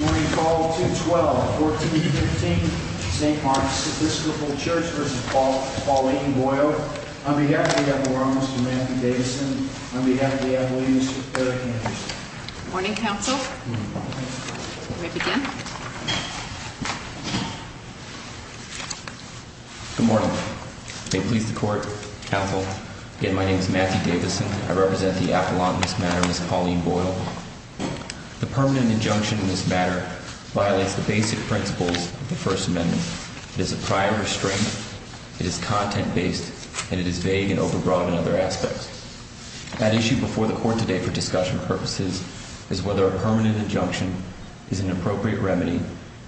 Morning Call 212-1415 St. Mark's Episcopal Church v. Pauline Boyle On behalf of the Apollon, Mr. Matthew Davison On behalf of the Apollon, Mr. Perry Anderson Morning, Counsel You may begin Good morning May it please the Court, Counsel Again, my name is Matthew Davison I represent the Apollon in this matter, Ms. Pauline Boyle The permanent injunction in this matter violates the basic principles of the First Amendment It is a prior restraint, it is content-based, and it is vague and overbroad in other aspects At issue before the Court today for discussion purposes is whether a permanent injunction is an appropriate remedy,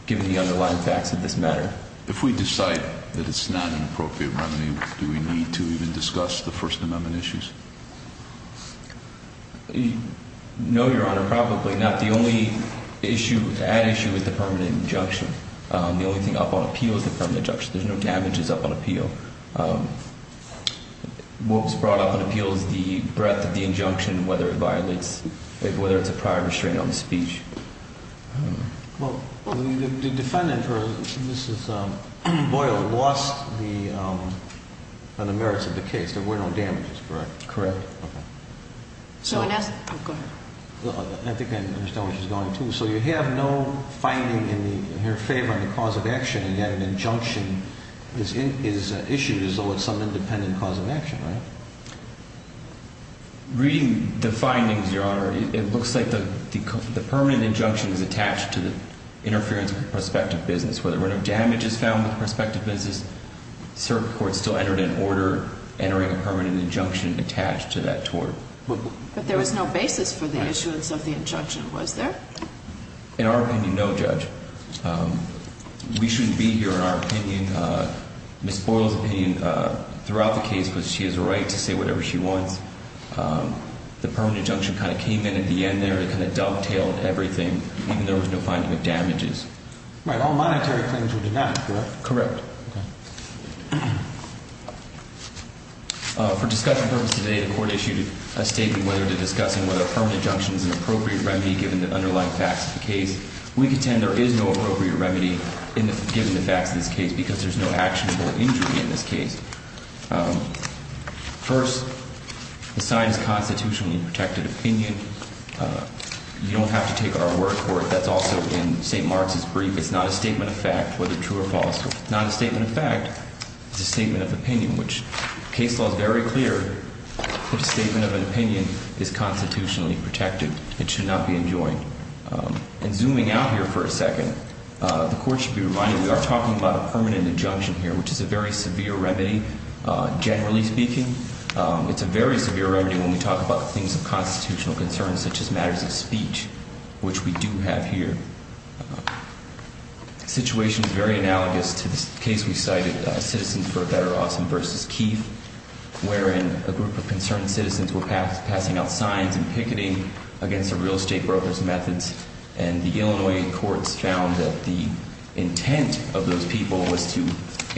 given the underlying facts of this matter If we decide that it's not an appropriate remedy, do we need to even discuss the First Amendment issues? No, Your Honor, probably not The only issue, the added issue, is the permanent injunction The only thing up on appeal is the permanent injunction There's no damages up on appeal What was brought up on appeal is the breadth of the injunction, whether it violates, whether it's a prior restraint on the speech Well, the defendant, Ms. Boyle, lost the merits of the case There were no damages, correct? Correct I think I understand where she's going, too So you have no finding in her favor on the cause of action, and yet an injunction is issued as though it's some independent cause of action, right? Reading the findings, Your Honor, it looks like the permanent injunction is attached to the interference with the prospective business Whether or not damage is found with the prospective business, cert court still entered an order entering a permanent injunction attached to that tort But there was no basis for the issuance of the injunction, was there? We shouldn't be here in our opinion, Ms. Boyle's opinion, throughout the case, because she has a right to say whatever she wants The permanent injunction kind of came in at the end there and kind of dovetailed everything, even though there was no finding of damages Right, all monetary claims were denied, correct? Correct Okay For discussion purposes today, the court issued a statement whether to discussing whether a permanent injunction is an appropriate remedy given the underlying facts of the case We contend there is no appropriate remedy given the facts of this case because there's no actionable injury in this case First, the sign is constitutionally protected opinion You don't have to take our word for it That's also in St. Mark's brief It's not a statement of fact, whether true or false It's not a statement of fact It's a statement of opinion, which case law is very clear If a statement of an opinion is constitutionally protected, it should not be enjoined And zooming out here for a second, the court should be reminded we are talking about a permanent injunction here, which is a very severe remedy, generally speaking It's a very severe remedy when we talk about things of constitutional concern, such as matters of speech, which we do have here The situation is very analogous to this case we cited, Citizens for a Better Austin v. Keefe wherein a group of concerned citizens were passing out signs and picketing against a real estate broker's methods and the Illinois courts found that the intent of those people was to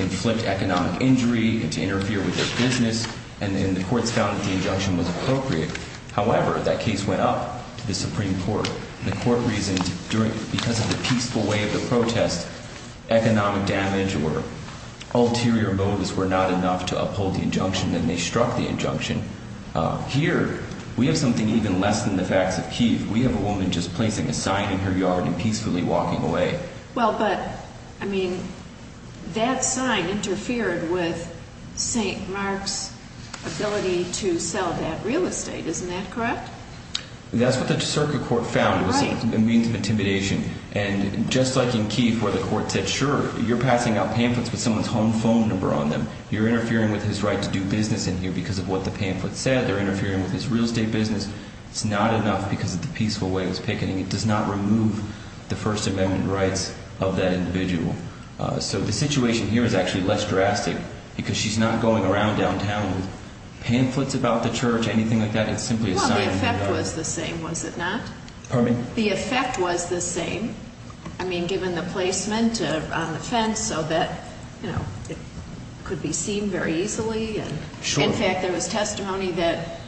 inflict economic injury and to interfere with their business and the courts found that the injunction was appropriate However, that case went up to the Supreme Court The court reasoned, because of the peaceful way of the protest, economic damage or ulterior motives were not enough to uphold the injunction and they struck the injunction Here, we have something even less than the facts of Keefe We have a woman just placing a sign in her yard and peacefully walking away Well, but, I mean, that sign interfered with St. Mark's ability to sell that real estate, isn't that correct? That's what the circuit court found. It was a means of intimidation And just like in Keefe, where the court said, sure, you're passing out pamphlets with someone's home phone number on them You're interfering with his right to do business in here because of what the pamphlet said They're interfering with his real estate business It's not enough because of the peaceful way of his picketing It does not remove the First Amendment rights of that individual So the situation here is actually less drastic because she's not going around downtown with pamphlets about the church or anything like that Well, the effect was the same, was it not? Pardon me? The effect was the same I mean, given the placement on the fence so that, you know, it could be seen very easily Sure In fact, there was testimony that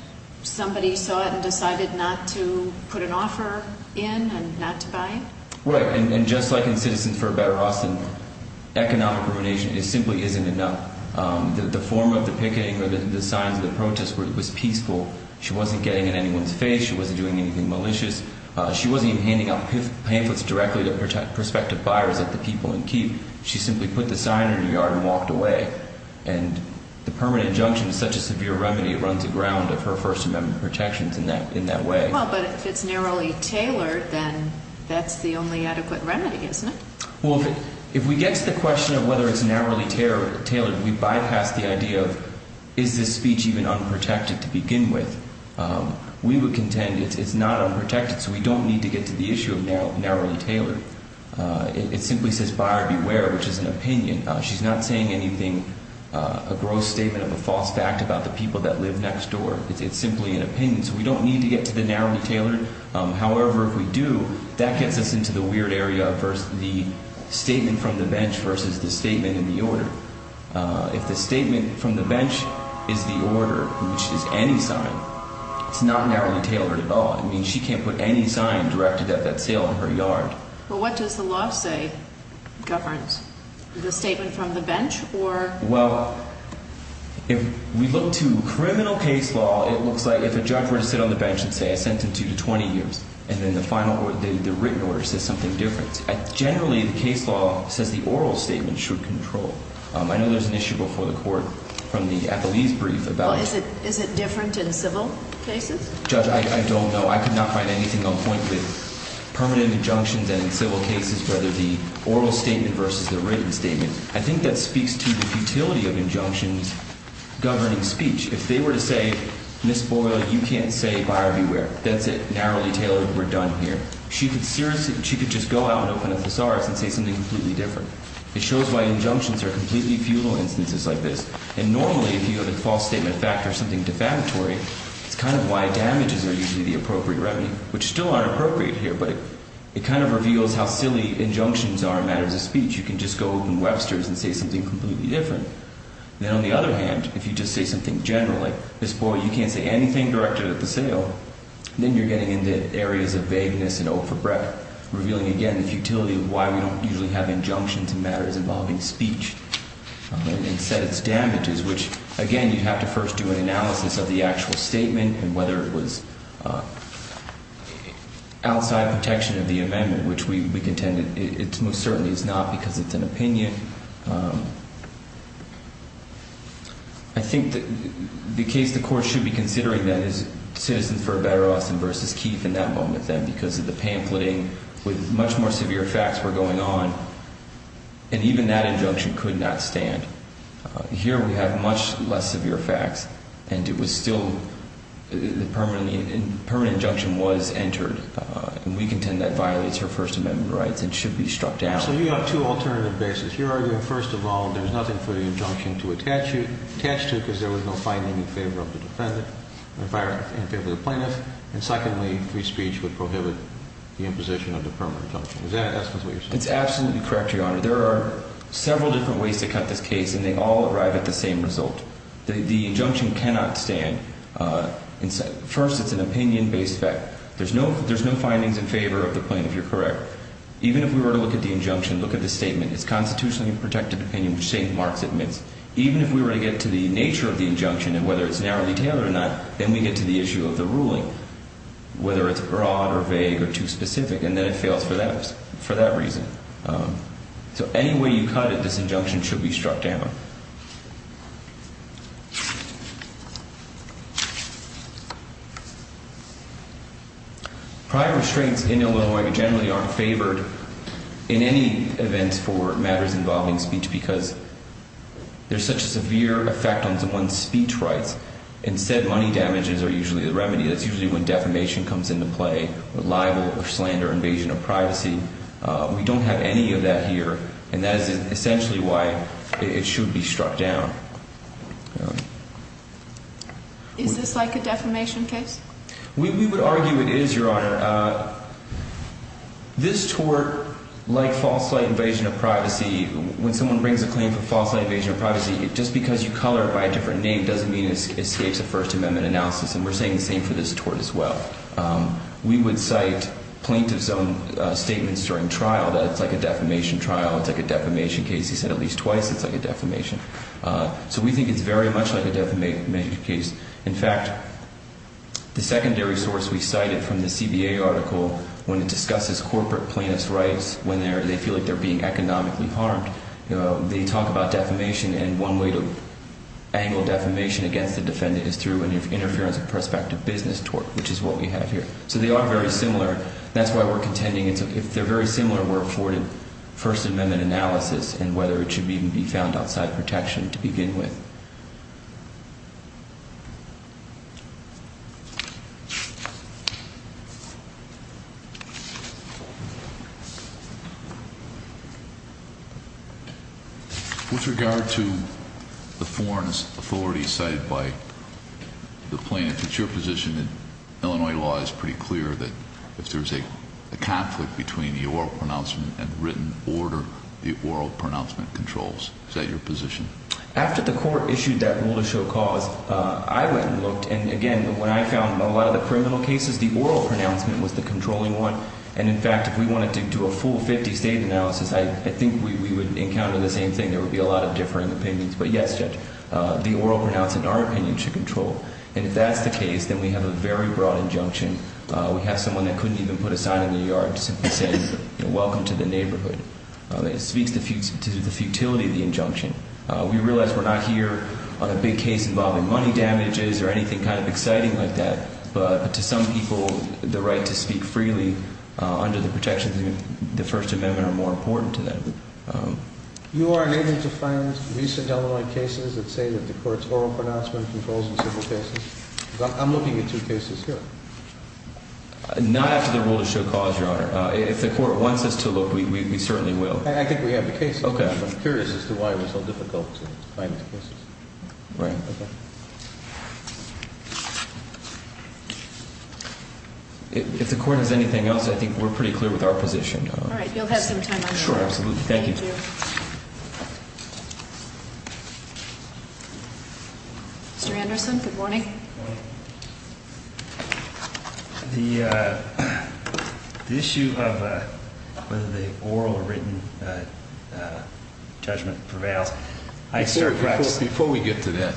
somebody saw it and decided not to put an offer in and not to buy it Right, and just like in Citizens for a Better Austin, economic ruination simply isn't enough The form of the picketing or the signs of the protest was peaceful She wasn't getting in anyone's face, she wasn't doing anything malicious She wasn't even handing out pamphlets directly to prospective buyers at the people in Keefe She simply put the sign in her yard and walked away And the permanent injunction is such a severe remedy, it runs aground of her First Amendment protections in that way Well, but if it's narrowly tailored, then that's the only adequate remedy, isn't it? Well, if we get to the question of whether it's narrowly tailored, we bypass the idea of is this speech even unprotected to begin with We would contend it's not unprotected, so we don't need to get to the issue of narrowly tailored It simply says buyer beware, which is an opinion She's not saying anything, a gross statement of a false fact about the people that live next door It's simply an opinion, so we don't need to get to the narrowly tailored However, if we do, that gets us into the weird area of the statement from the bench versus the statement in the order If the statement from the bench is the order, which is any sign, it's not narrowly tailored at all I mean, she can't put any sign directed at that sale in her yard Well, what does the law say governs? The statement from the bench or... Well, if we look to criminal case law, it looks like if a judge were to sit on the bench and say I sentence you to 20 years and then the written order says something different Generally, the case law says the oral statement should control I know there's an issue before the court from the Appleese brief about... Well, is it different in civil cases? Judge, I don't know. I could not find anything on point with permanent injunctions and in civil cases whether the oral statement versus the written statement I think that speaks to the futility of injunctions governing speech If they were to say, Ms. Boyle, you can't say buyer beware, that's it, narrowly tailored, we're done here She could just go out and open a thesaurus and say something completely different It shows why injunctions are completely futile instances like this And normally, if you have a false statement of fact or something defamatory it's kind of why damages are usually the appropriate remedy Which still aren't appropriate here, but it kind of reveals how silly injunctions are in matters of speech You can just go open Webster's and say something completely different Then on the other hand, if you just say something generally Ms. Boyle, you can't say anything directed at the sale Then you're getting into areas of vagueness and oath of breath revealing again the futility of why we don't usually have injunctions in matters involving speech Instead it's damages, which again, you have to first do an analysis of the actual statement and whether it was outside protection of the amendment which we contend it most certainly is not because it's an opinion I think the case the court should be considering then is Citizens for a Better Austin v. Keith in that moment because of the pamphleting with much more severe facts were going on and even that injunction could not stand Here we have much less severe facts and it was still the permanent injunction was entered and we contend that violates her First Amendment rights and should be struck down So you have two alternative bases You're arguing first of all, there's nothing for the injunction to attach to because there was no finding in favor of the plaintiff and secondly, free speech would prohibit the imposition of the permanent injunction Is that what you're saying? It's absolutely correct, Your Honor There are several different ways to cut this case and they all arrive at the same result The injunction cannot stand First, it's an opinion-based fact There's no findings in favor of the plaintiff, you're correct Even if we were to look at the injunction, look at the statement It's constitutionally protected opinion which St. Mark's admits Even if we were to get to the nature of the injunction and whether it's narrowly tailored or not then we get to the issue of the ruling whether it's broad or vague or too specific and then it fails for that reason So any way you cut it, this injunction should be struck down Private restraints in Illinois generally aren't favored in any event for matters involving speech because there's such a severe effect on someone's speech rights Instead, money damages are usually the remedy That's usually when defamation comes into play, libel or slander, invasion of privacy We don't have any of that here and that is essentially why it should be struck down Is this like a defamation case? We would argue it is, Your Honor This tort, like false light invasion of privacy when someone brings a claim for false light invasion of privacy just because you color it by a different name doesn't mean it escapes a First Amendment analysis and we're saying the same for this tort as well We would cite plaintiff's own statements during trial that it's like a defamation trial, it's like a defamation case He said at least twice it's like a defamation So we think it's very much like a defamation case In fact, the secondary source we cited from the CBA article when it discusses corporate plaintiff's rights when they feel like they're being economically harmed they talk about defamation and one way to angle defamation against the defendant is through an interference of prospective business tort which is what we have here So they are very similar That's why we're contending if they're very similar we're afforded First Amendment analysis and whether it should even be found outside protection to begin with With regard to the foreign authority cited by the plaintiff it's your position that Illinois law is pretty clear that if there's a conflict between the oral pronouncement and written order the oral pronouncement controls Is that your position? After the court issued that rule to show cause I went and looked and again when I found a lot of the criminal cases the oral pronouncement was the controlling one and in fact if we wanted to do a full 50 state analysis I think we would encounter the same thing There would be a lot of differing opinions But yes Judge, the oral pronouncement in our opinion should control And if that's the case, then we have a very broad injunction We have someone that couldn't even put a sign in the yard to simply say welcome to the neighborhood It speaks to the futility of the injunction We realize we're not here on a big case involving money damages or anything kind of exciting like that but to some people the right to speak freely under the protections of the First Amendment are more important to them You are unable to find recent Illinois cases that say that the court's oral pronouncement controls the civil cases? I'm looking at two cases here Not after the rule to show cause, Your Honor If the court wants us to look, we certainly will I think we have the cases I'm curious as to why it was so difficult to find the cases If the court has anything else, I think we're pretty clear with our position All right, you'll have some time on that Sure, absolutely, thank you Mr. Anderson, good morning Good morning The issue of whether the oral or written judgment prevails Before we get to that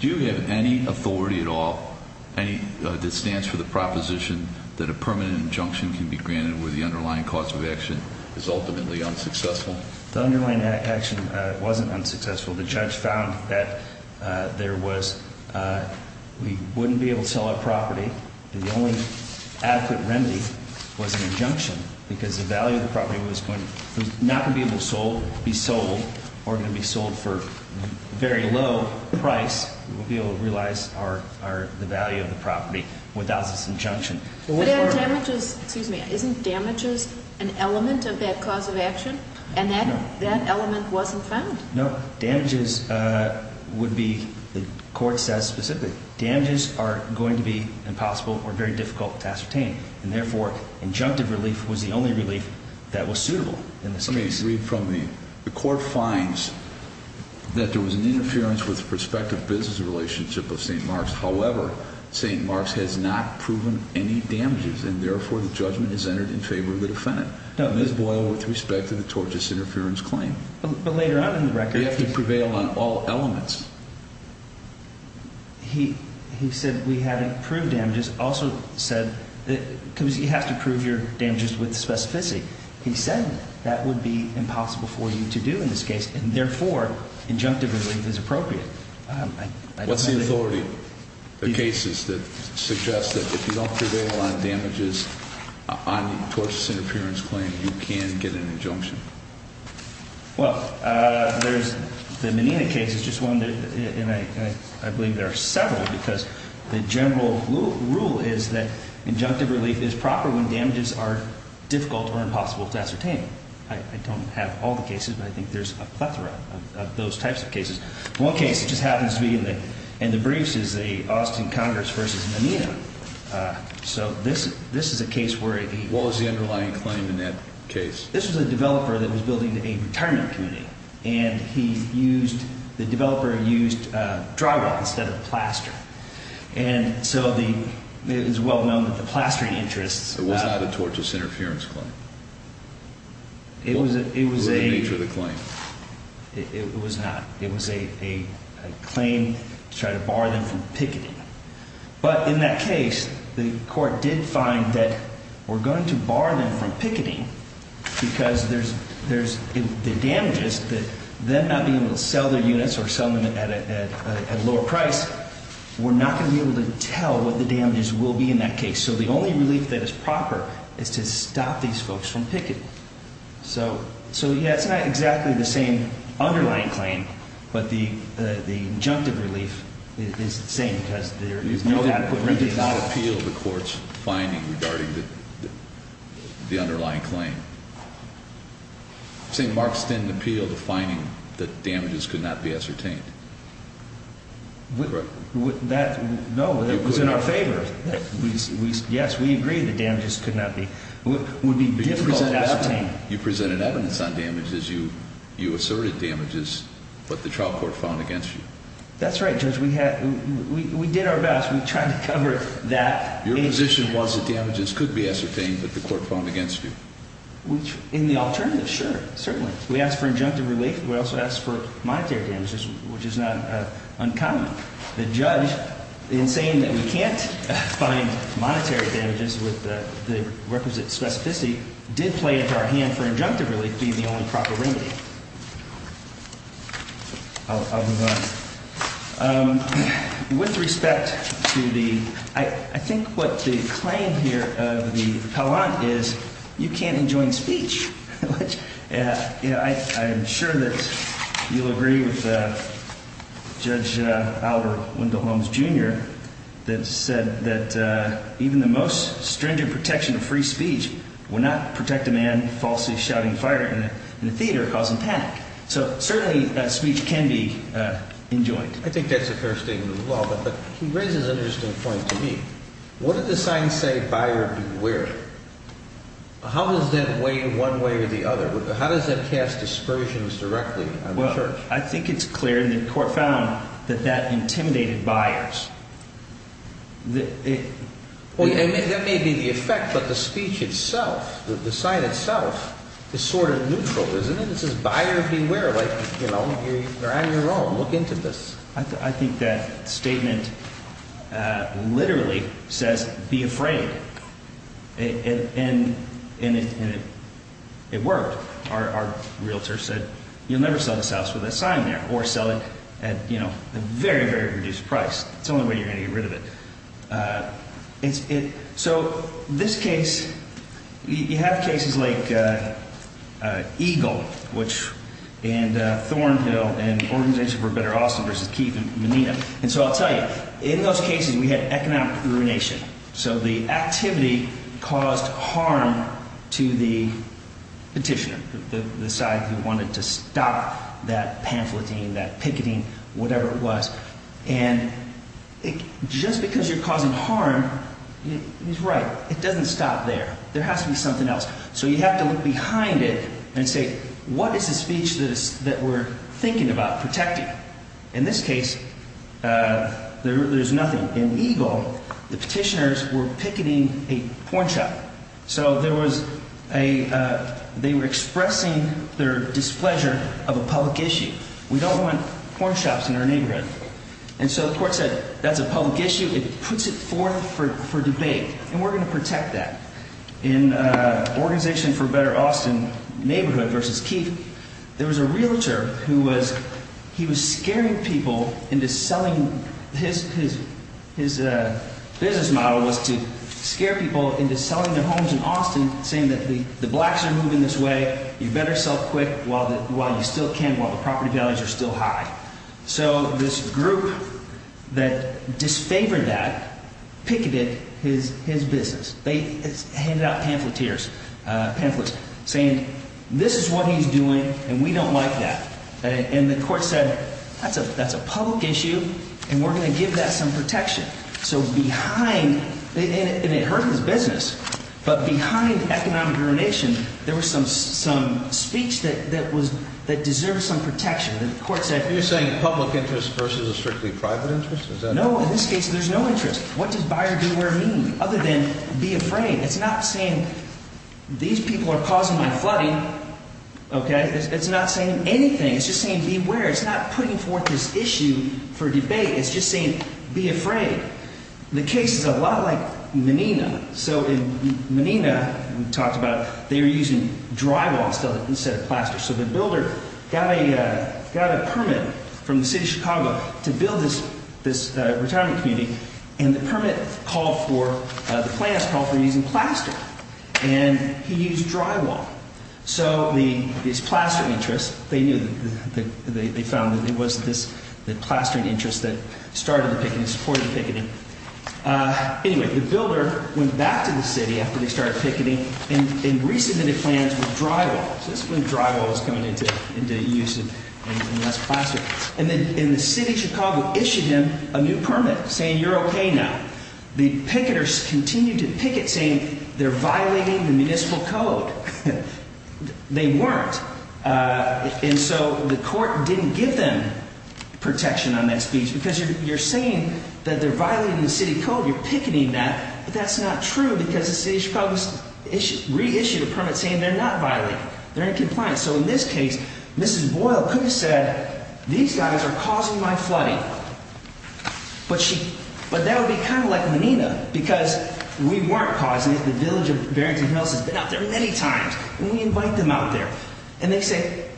Do you have any authority at all that stands for the proposition that a permanent injunction can be granted where the underlying cause of action is ultimately unsuccessful? The underlying action wasn't unsuccessful The judge found that there was We wouldn't be able to sell our property The only adequate remedy was an injunction because the value of the property was not going to be able to be sold or going to be sold for a very low price We wouldn't be able to realize the value of the property without this injunction Isn't damage an element of that cause of action? And that element wasn't found? No, damages would be, the court says specifically Damages are going to be impossible or very difficult to ascertain and therefore injunctive relief was the only relief that was suitable in this case Let me read from the The court finds that there was an interference with the prospective business relationship of St. Mark's However, St. Mark's has not proven any damages and therefore the judgment is entered in favor of the defendant Ms. Boyle, with respect to the tortious interference claim But later on in the record You have to prevail on all elements He said we haven't proved damages Also said, because you have to prove your damages with specificity He said that would be impossible for you to do in this case and therefore injunctive relief is appropriate What's the authority? The cases that suggest that if you don't prevail on damages on the tortious interference claim you can get an injunction Well, the Menina case is just one and I believe there are several because the general rule is that injunctive relief is proper when damages are difficult or impossible to ascertain I don't have all the cases but I think there's a plethora of those types of cases One case just happens to be in the briefs is the Austin Congress v. Menina So this is a case where the What was the underlying claim in that case? This was a developer that was building a retirement community and the developer used drywall instead of plaster and so it is well known that the plastering interests It was not a tortious interference claim What was the nature of the claim? It was not It was a claim to try to bar them from picketing But in that case, the court did find that we're going to bar them from picketing because if the damages that they're not being able to sell their units or sell them at a lower price we're not going to be able to tell what the damages will be in that case So the only relief that is proper is to stop these folks from picketing So, yeah, it's not exactly the same underlying claim but the injunctive relief is the same because there is no way to put them in jail You did not appeal the court's finding regarding the underlying claim St. Mark's didn't appeal the finding that damages could not be ascertained No, it was in our favor Yes, we agreed that damages could not be would be difficult to ascertain You presented evidence on damages You asserted damages but the trial court found against you That's right, Judge We did our best, we tried to cover that Your position was that damages could be ascertained but the court found against you In the alternative, sure, certainly We asked for injunctive relief We also asked for monetary damages which is not uncommon The judge, in saying that we can't find monetary damages with the requisite specificity did play into our hand for injunctive relief being the only proper remedy I'll move on With respect to the I think what the claim here of the appellant is you can't enjoin speech I'm sure that you'll agree with Judge Albert Wendell Holmes Jr. that said that even the most stringent protection of free speech would not protect a man falsely shouting fire in a theater causing panic So certainly speech can be enjoined I think that's a fair statement of the law but he raises an interesting point to me What did the sign say, buyer beware? How does that weigh one way or the other? How does that cast aspersions directly? I think it's clear and the court found that that intimidated buyers That may be the effect but the speech itself, the sign itself is sort of neutral, isn't it? It says buyer beware You're on your own, look into this I think that statement literally says be afraid and it worked Our realtor said you'll never sell this house with a sign there or sell it at a very, very reduced price That's the only way you're going to get rid of it So this case You have cases like Eagle and Thornhill and Organization for a Better Austin versus Keith and Menina and so I'll tell you In those cases we had economic ruination so the activity caused harm to the petitioner the side who wanted to stop that pamphleting that picketing, whatever it was and just because you're causing harm he's right, it doesn't stop there There has to be something else So you have to look behind it and say what is the speech that we're thinking about protecting In this case, there's nothing In Eagle, the petitioners were picketing a porn shop so they were expressing their displeasure of a public issue We don't want porn shops in our neighborhood and so the court said that's a public issue it puts it forth for debate and we're going to protect that In Organization for a Better Austin neighborhood versus Keith there was a realtor who was he was scaring people into selling his business model was to scare people into selling their homes in Austin saying that the blacks are moving this way you better sell quick while you still can while the property values are still high so this group that disfavored that picketed his business they handed out pamphlets saying this is what he's doing and we don't like that and the court said that's a public issue and we're going to give that some protection so behind, and it hurt his business but behind economic ruination there was some speech that deserved some protection You're saying public interest versus a strictly private interest? No, in this case there's no interest What does buyer beware mean other than be afraid? It's not saying these people are causing more flooding It's not saying anything It's just saying beware It's not putting forth this issue for debate It's just saying be afraid The case is a lot like Menina So in Menina, we talked about they were using drywall instead of plaster so the builder got a permit from the city of Chicago to build this retirement community and the permit called for the plans called for using plaster and he used drywall so these plaster interests they found that it was the plastering interests that started the picketing, supported the picketing Anyway, the builder went back to the city after they started picketing and re-submitted plans with drywall so this is when drywall was coming into use and less plaster and the city of Chicago issued him a new permit saying you're okay now the picketers continued to picket saying they're violating the municipal code they weren't and so the court didn't give them protection on that speech because you're saying that they're violating the city code you're picketing that but that's not true because the city of Chicago re-issued a permit saying they're not violating they're in compliance so in this case, Mrs. Boyle could have said these guys are causing my flooding but that would be kind of like Menina because we weren't causing it the village of Barrington Hills has been out there many times and we invite them out there and they say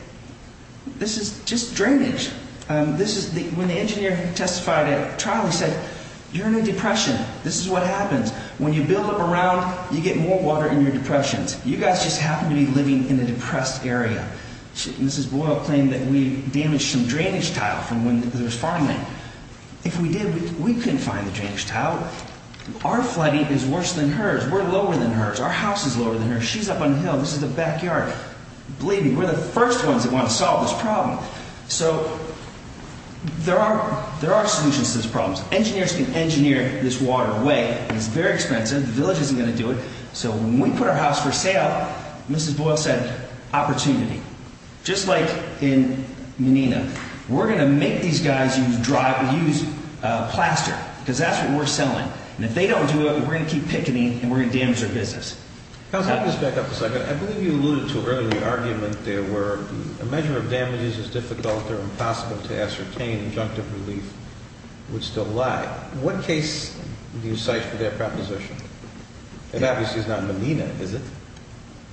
this is just drainage when the engineer testified at trial he said you're in a depression this is what happens when you build up around you get more water in your depressions you guys just happen to be living in a depressed area Mrs. Boyle claimed that we damaged some drainage tile from when there was farmland if we did, we couldn't find the drainage tile our flooding is worse than hers we're lower than hers our house is lower than hers she's up on the hill this is the backyard believe me, we're the first ones that want to solve this problem so there are solutions to this problem engineers can engineer this water away it's very expensive the village isn't going to do it so when we put our house for sale Mrs. Boyle said opportunity just like in Menina we're going to make these guys use plaster because that's what we're selling and if they don't do it we're going to keep picketing and we're going to damage their business I'll just back up a second I believe you alluded to earlier the argument there were a measure of damage is as difficult or impossible to ascertain injunctive relief would still lie what case do you cite for that proposition? it obviously is not Menina, is it?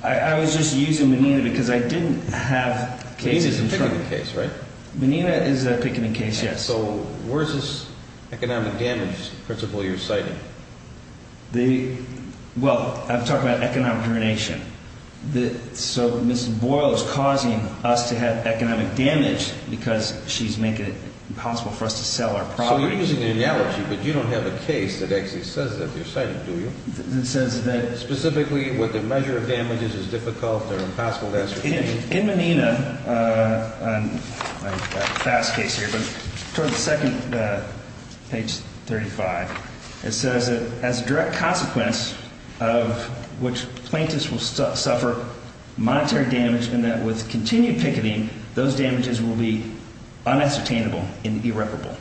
I was just using Menina because I didn't have cases in front of me Menina is a picketing case, right? Menina is a picketing case, yes so where is this economic damage principle you're citing? well, I'm talking about economic drenation so Mrs. Boyle is causing us to have economic damage because she's making it impossible for us to sell our property so you're using an analogy but you don't have a case that actually says that you're citing, do you? that says that specifically what the measure of damage is is difficult or impossible to ascertain in Menina I've got a fast case here but toward the second, page 35 it says that as a direct consequence of which plaintiffs will suffer monetary damage and that with continued picketing those damages will be unascertainable and irreparable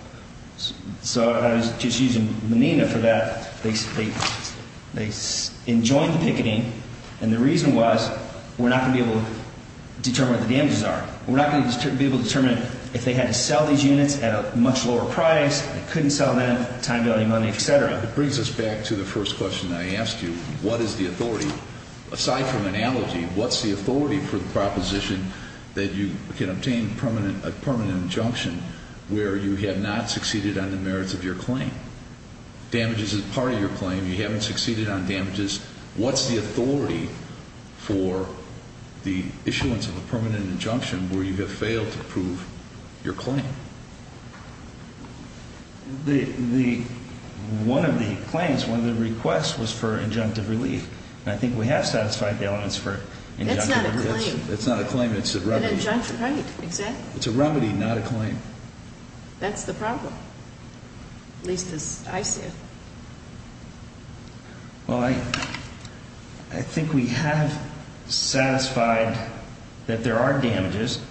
so I was just using Menina for that they enjoined the picketing and the reason was we're not going to be able to determine what the damages are we're not going to be able to determine if they had to sell these units at a much lower price they couldn't sell them time, value, money, etc. it brings us back to the first question I asked you what is the authority aside from analogy what's the authority for the proposition that you can obtain a permanent injunction where you have not succeeded on the merits of your claim damages is part of your claim you haven't succeeded on damages what's the authority for the issuance of a permanent injunction where you have failed to prove your claim one of the claims one of the requests was for injunctive relief and I think we have satisfied the elements for injunctive relief that's not a claim that's not a claim it's a remedy right, exactly it's a remedy, not a claim that's the problem at least as I see it well I I think we have satisfied that there are damages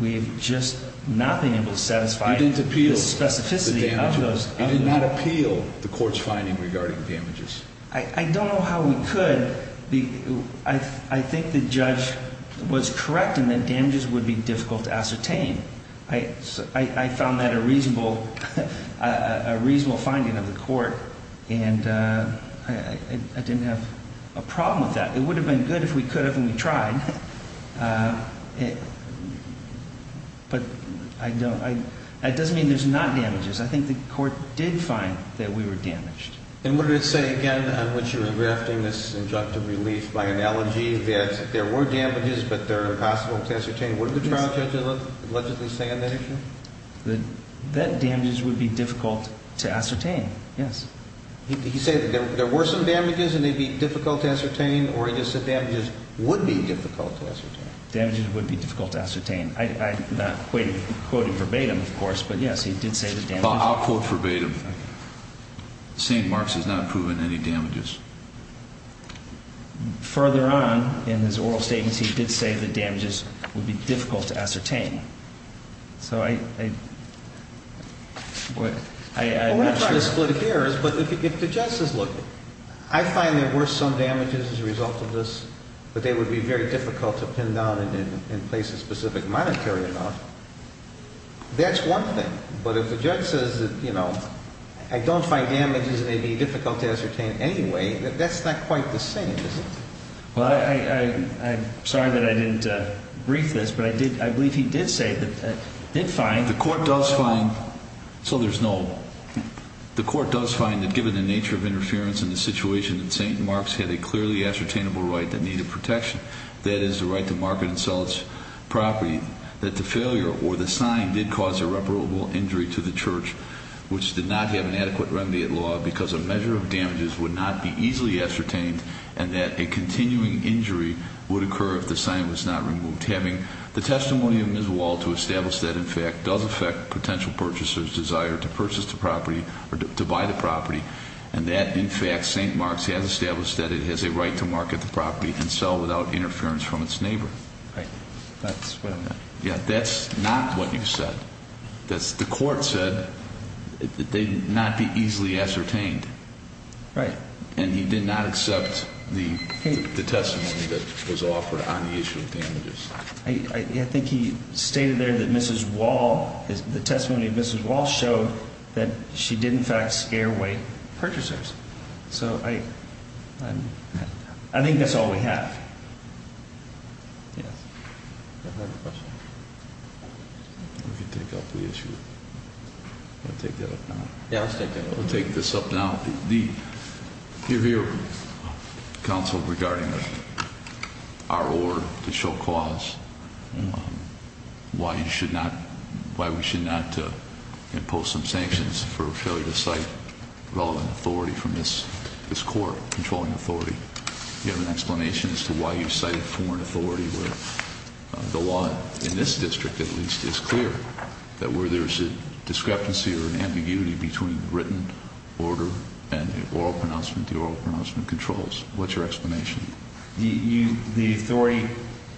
we've just not been able to satisfy you didn't appeal the specificity of those you did not appeal the court's finding regarding damages I don't know how we could I think the judge was correct in that damages would be difficult to ascertain I found that a reasonable a reasonable finding of the court and I didn't have a problem with that it would have been good if we could have and we tried but I don't that doesn't mean there's not damages I think the court did find that we were damaged and what did it say again when she was drafting this injunctive relief by analogy that there were damages but they're impossible to ascertain what did the trial judge allegedly say on that issue that damages would be difficult to ascertain yes he said that there were some damages and they'd be difficult to ascertain or he just said damages would be difficult to ascertain damages would be difficult to ascertain I'm not quite quoting verbatim of course but yes he did say that damages I'll quote verbatim St. Mark's has not proven any damages further on in his oral statements he did say that damages would be difficult to ascertain so I I'm not sure what we're trying to split here is but if the judge says look I find there were some damages as a result of this but they would be very difficult to pin down and place a specific monetary amount that's one thing but if the judge says that you know I don't find damages and they'd be difficult to ascertain anyway that's not quite the same is it well I'm sorry that I didn't brief this but I believe he did say the court does find so there's no the court does find that given the nature of interference in the situation that St. Mark's had a clearly ascertainable right that needed protection that is the right to market and sell its property that the failure or the sign did cause irreparable injury to the church which did not have an adequate remedy at law because a measure of damages would not be easily ascertained and that a continuing injury would occur if the sign was not removed having the testimony of Ms. Wall to establish that in fact does affect potential purchasers desire to purchase the property or to buy the property and that in fact St. Mark's has established that it has a right to market the property and sell without interference from its neighbor right that's what I meant yeah that's not what you said the court said it did not be easily ascertained right and he did not accept the testimony that was offered on the issue of damages I think he stated there that Ms. Wall the testimony of Ms. Wall showed that she did in fact scare away purchasers so I I think that's all we have yes any other questions? we can take up the issue we'll take that up now yeah let's take that up we'll take this up now the review council regarding our order to show cause why you should not why we should not impose some sanctions for failure to cite relevant authority from this this court controlling authority do you have an explanation as to why you cited foreign authority where the law in this district at least is clear that where there's a discrepancy or an ambiguity between written order and the oral pronouncement the oral pronouncement controls what's your explanation? you the authority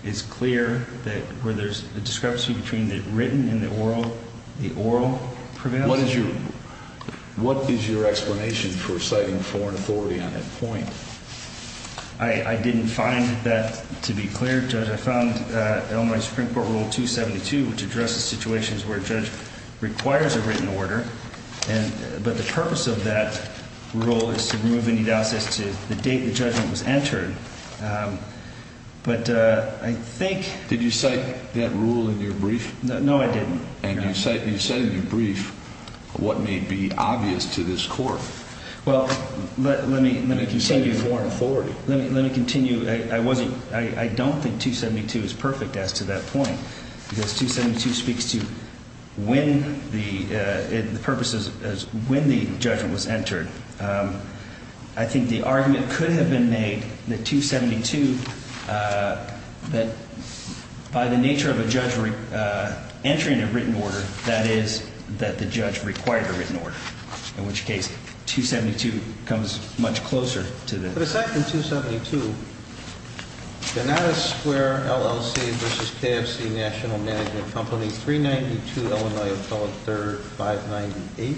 is clear that where there's a discrepancy between the written and the oral the oral pronouncement what is your what is your explanation for citing foreign authority on that point? I I didn't find that to be clear judge I found uh in my supreme court rule 272 which addresses situations where judge requires a written order and but the purpose of that rule is to remove any the date the judgment was entered um but uh I think did you cite that rule in your brief? no I didn't and you cite you said in your brief what may be obvious to this court well let let me let me continue you cited foreign authority let me let me continue I wasn't I don't think 272 is perfect as to that point because 272 speaks to when the uh the purpose is is when the judgment was entered um I think the argument could have been made that 272 uh that by the nature of a judge uh entering a written order that is that the judge required a written order in which case 272 comes much closer to the but aside from 272 Gennady Square LLC versus KFC National Management Company 392 Illinois Apollo 3rd 598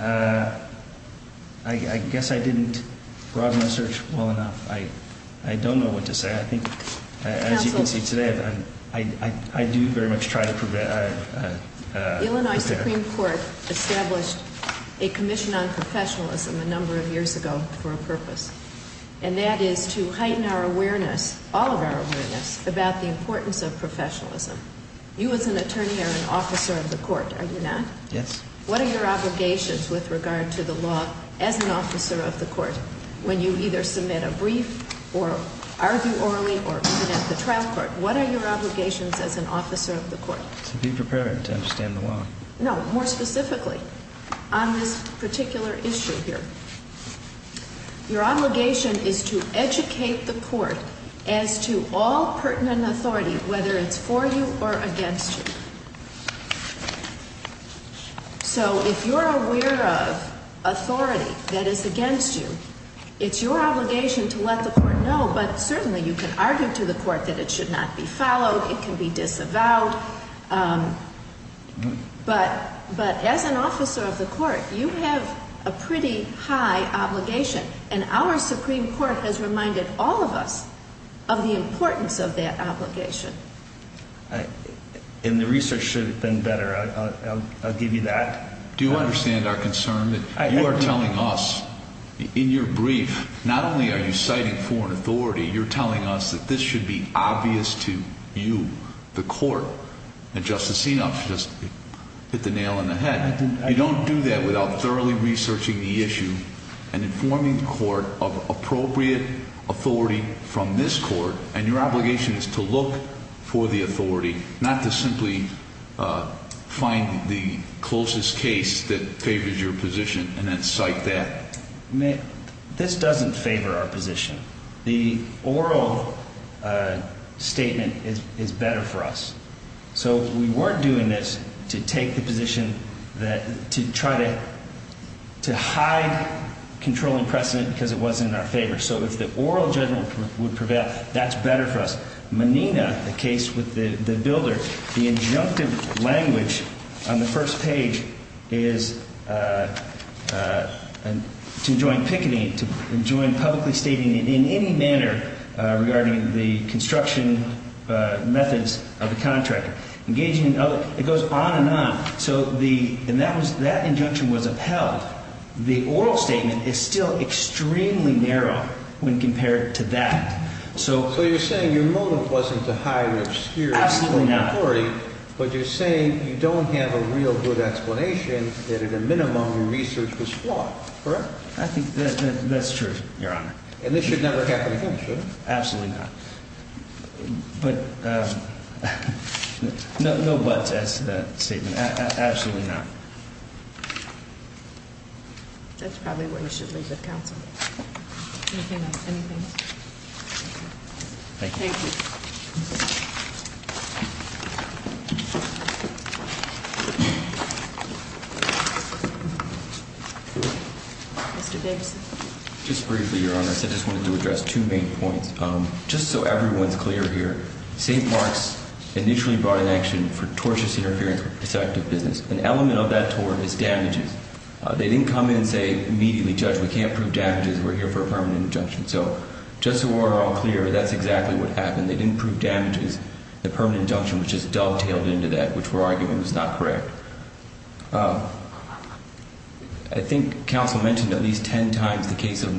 uh I guess I didn't broaden my search well enough I I don't know what to say I think as you can see today I I do very much try to prepare Illinois Supreme Court established a commission on professionalism a number of years ago for a purpose and that is to heighten our awareness all of our awareness about the importance of professionalism you as an attorney are an officer of the court are you not yes what are your obligations with regard to the law as an officer of the court when you either submit a brief or argue orally or even at the trial court what are your obligations as an officer of the court to be prepared to understand the law no more specifically on this particular issue here your obligation is to educate the court as to all pertinent authority whether it's for you or against you so if you're aware of authority that is against you it's your obligation to let the court know but certainly you can argue to the court that it is your obligation but as an officer of the court you have a pretty high obligation and our supreme court has reminded all of us of the importance of that obligation and the research should have been better I'll give you that do you understand our concern that you are telling us in your brief not only are you citing foreign authority you're telling us that this should be obvious to you the court and Justice Sinop just hit the nail in the head you don't do that without thoroughly researching the issue and informing the court of appropriate authority from this court and your obligation is to look for the authority not to simply find the closest case that favors your position and then cite that this doesn't favor our position the oral statement is better for us so if we weren't doing this to take the position to try to hide controlling precedent because it wasn't in our favor so if the oral judgment would prevail that's better for us Menina the case with the builder the injunctive language on the first page is to join picketing to join publicly stating in any manner regarding the construction methods of the contractor it goes on and on and on. what I was trying to You have a real good explanation that you didn't have a good explanation in this case so a minimum research was flawed, correct? I think that's true, your honor. And this should never happen again, should it? Absolutely not. But, no buts as to that statement. Absolutely not. That's probably where you should leave it, counsel. Anything else? Thank you. Thank you. Mr. Baberson. Just briefly, your honor, I just wanted to address two main points. Just so everyone's clear here, St. Mark's initially brought in action for tortuous interference with protective business. An element of that tort is that was not a permanent injunction. We can't prove damages. Just so we're all clear, that's exactly what happened. They didn't prove damages. I think counsel mentioned at least ten times the case of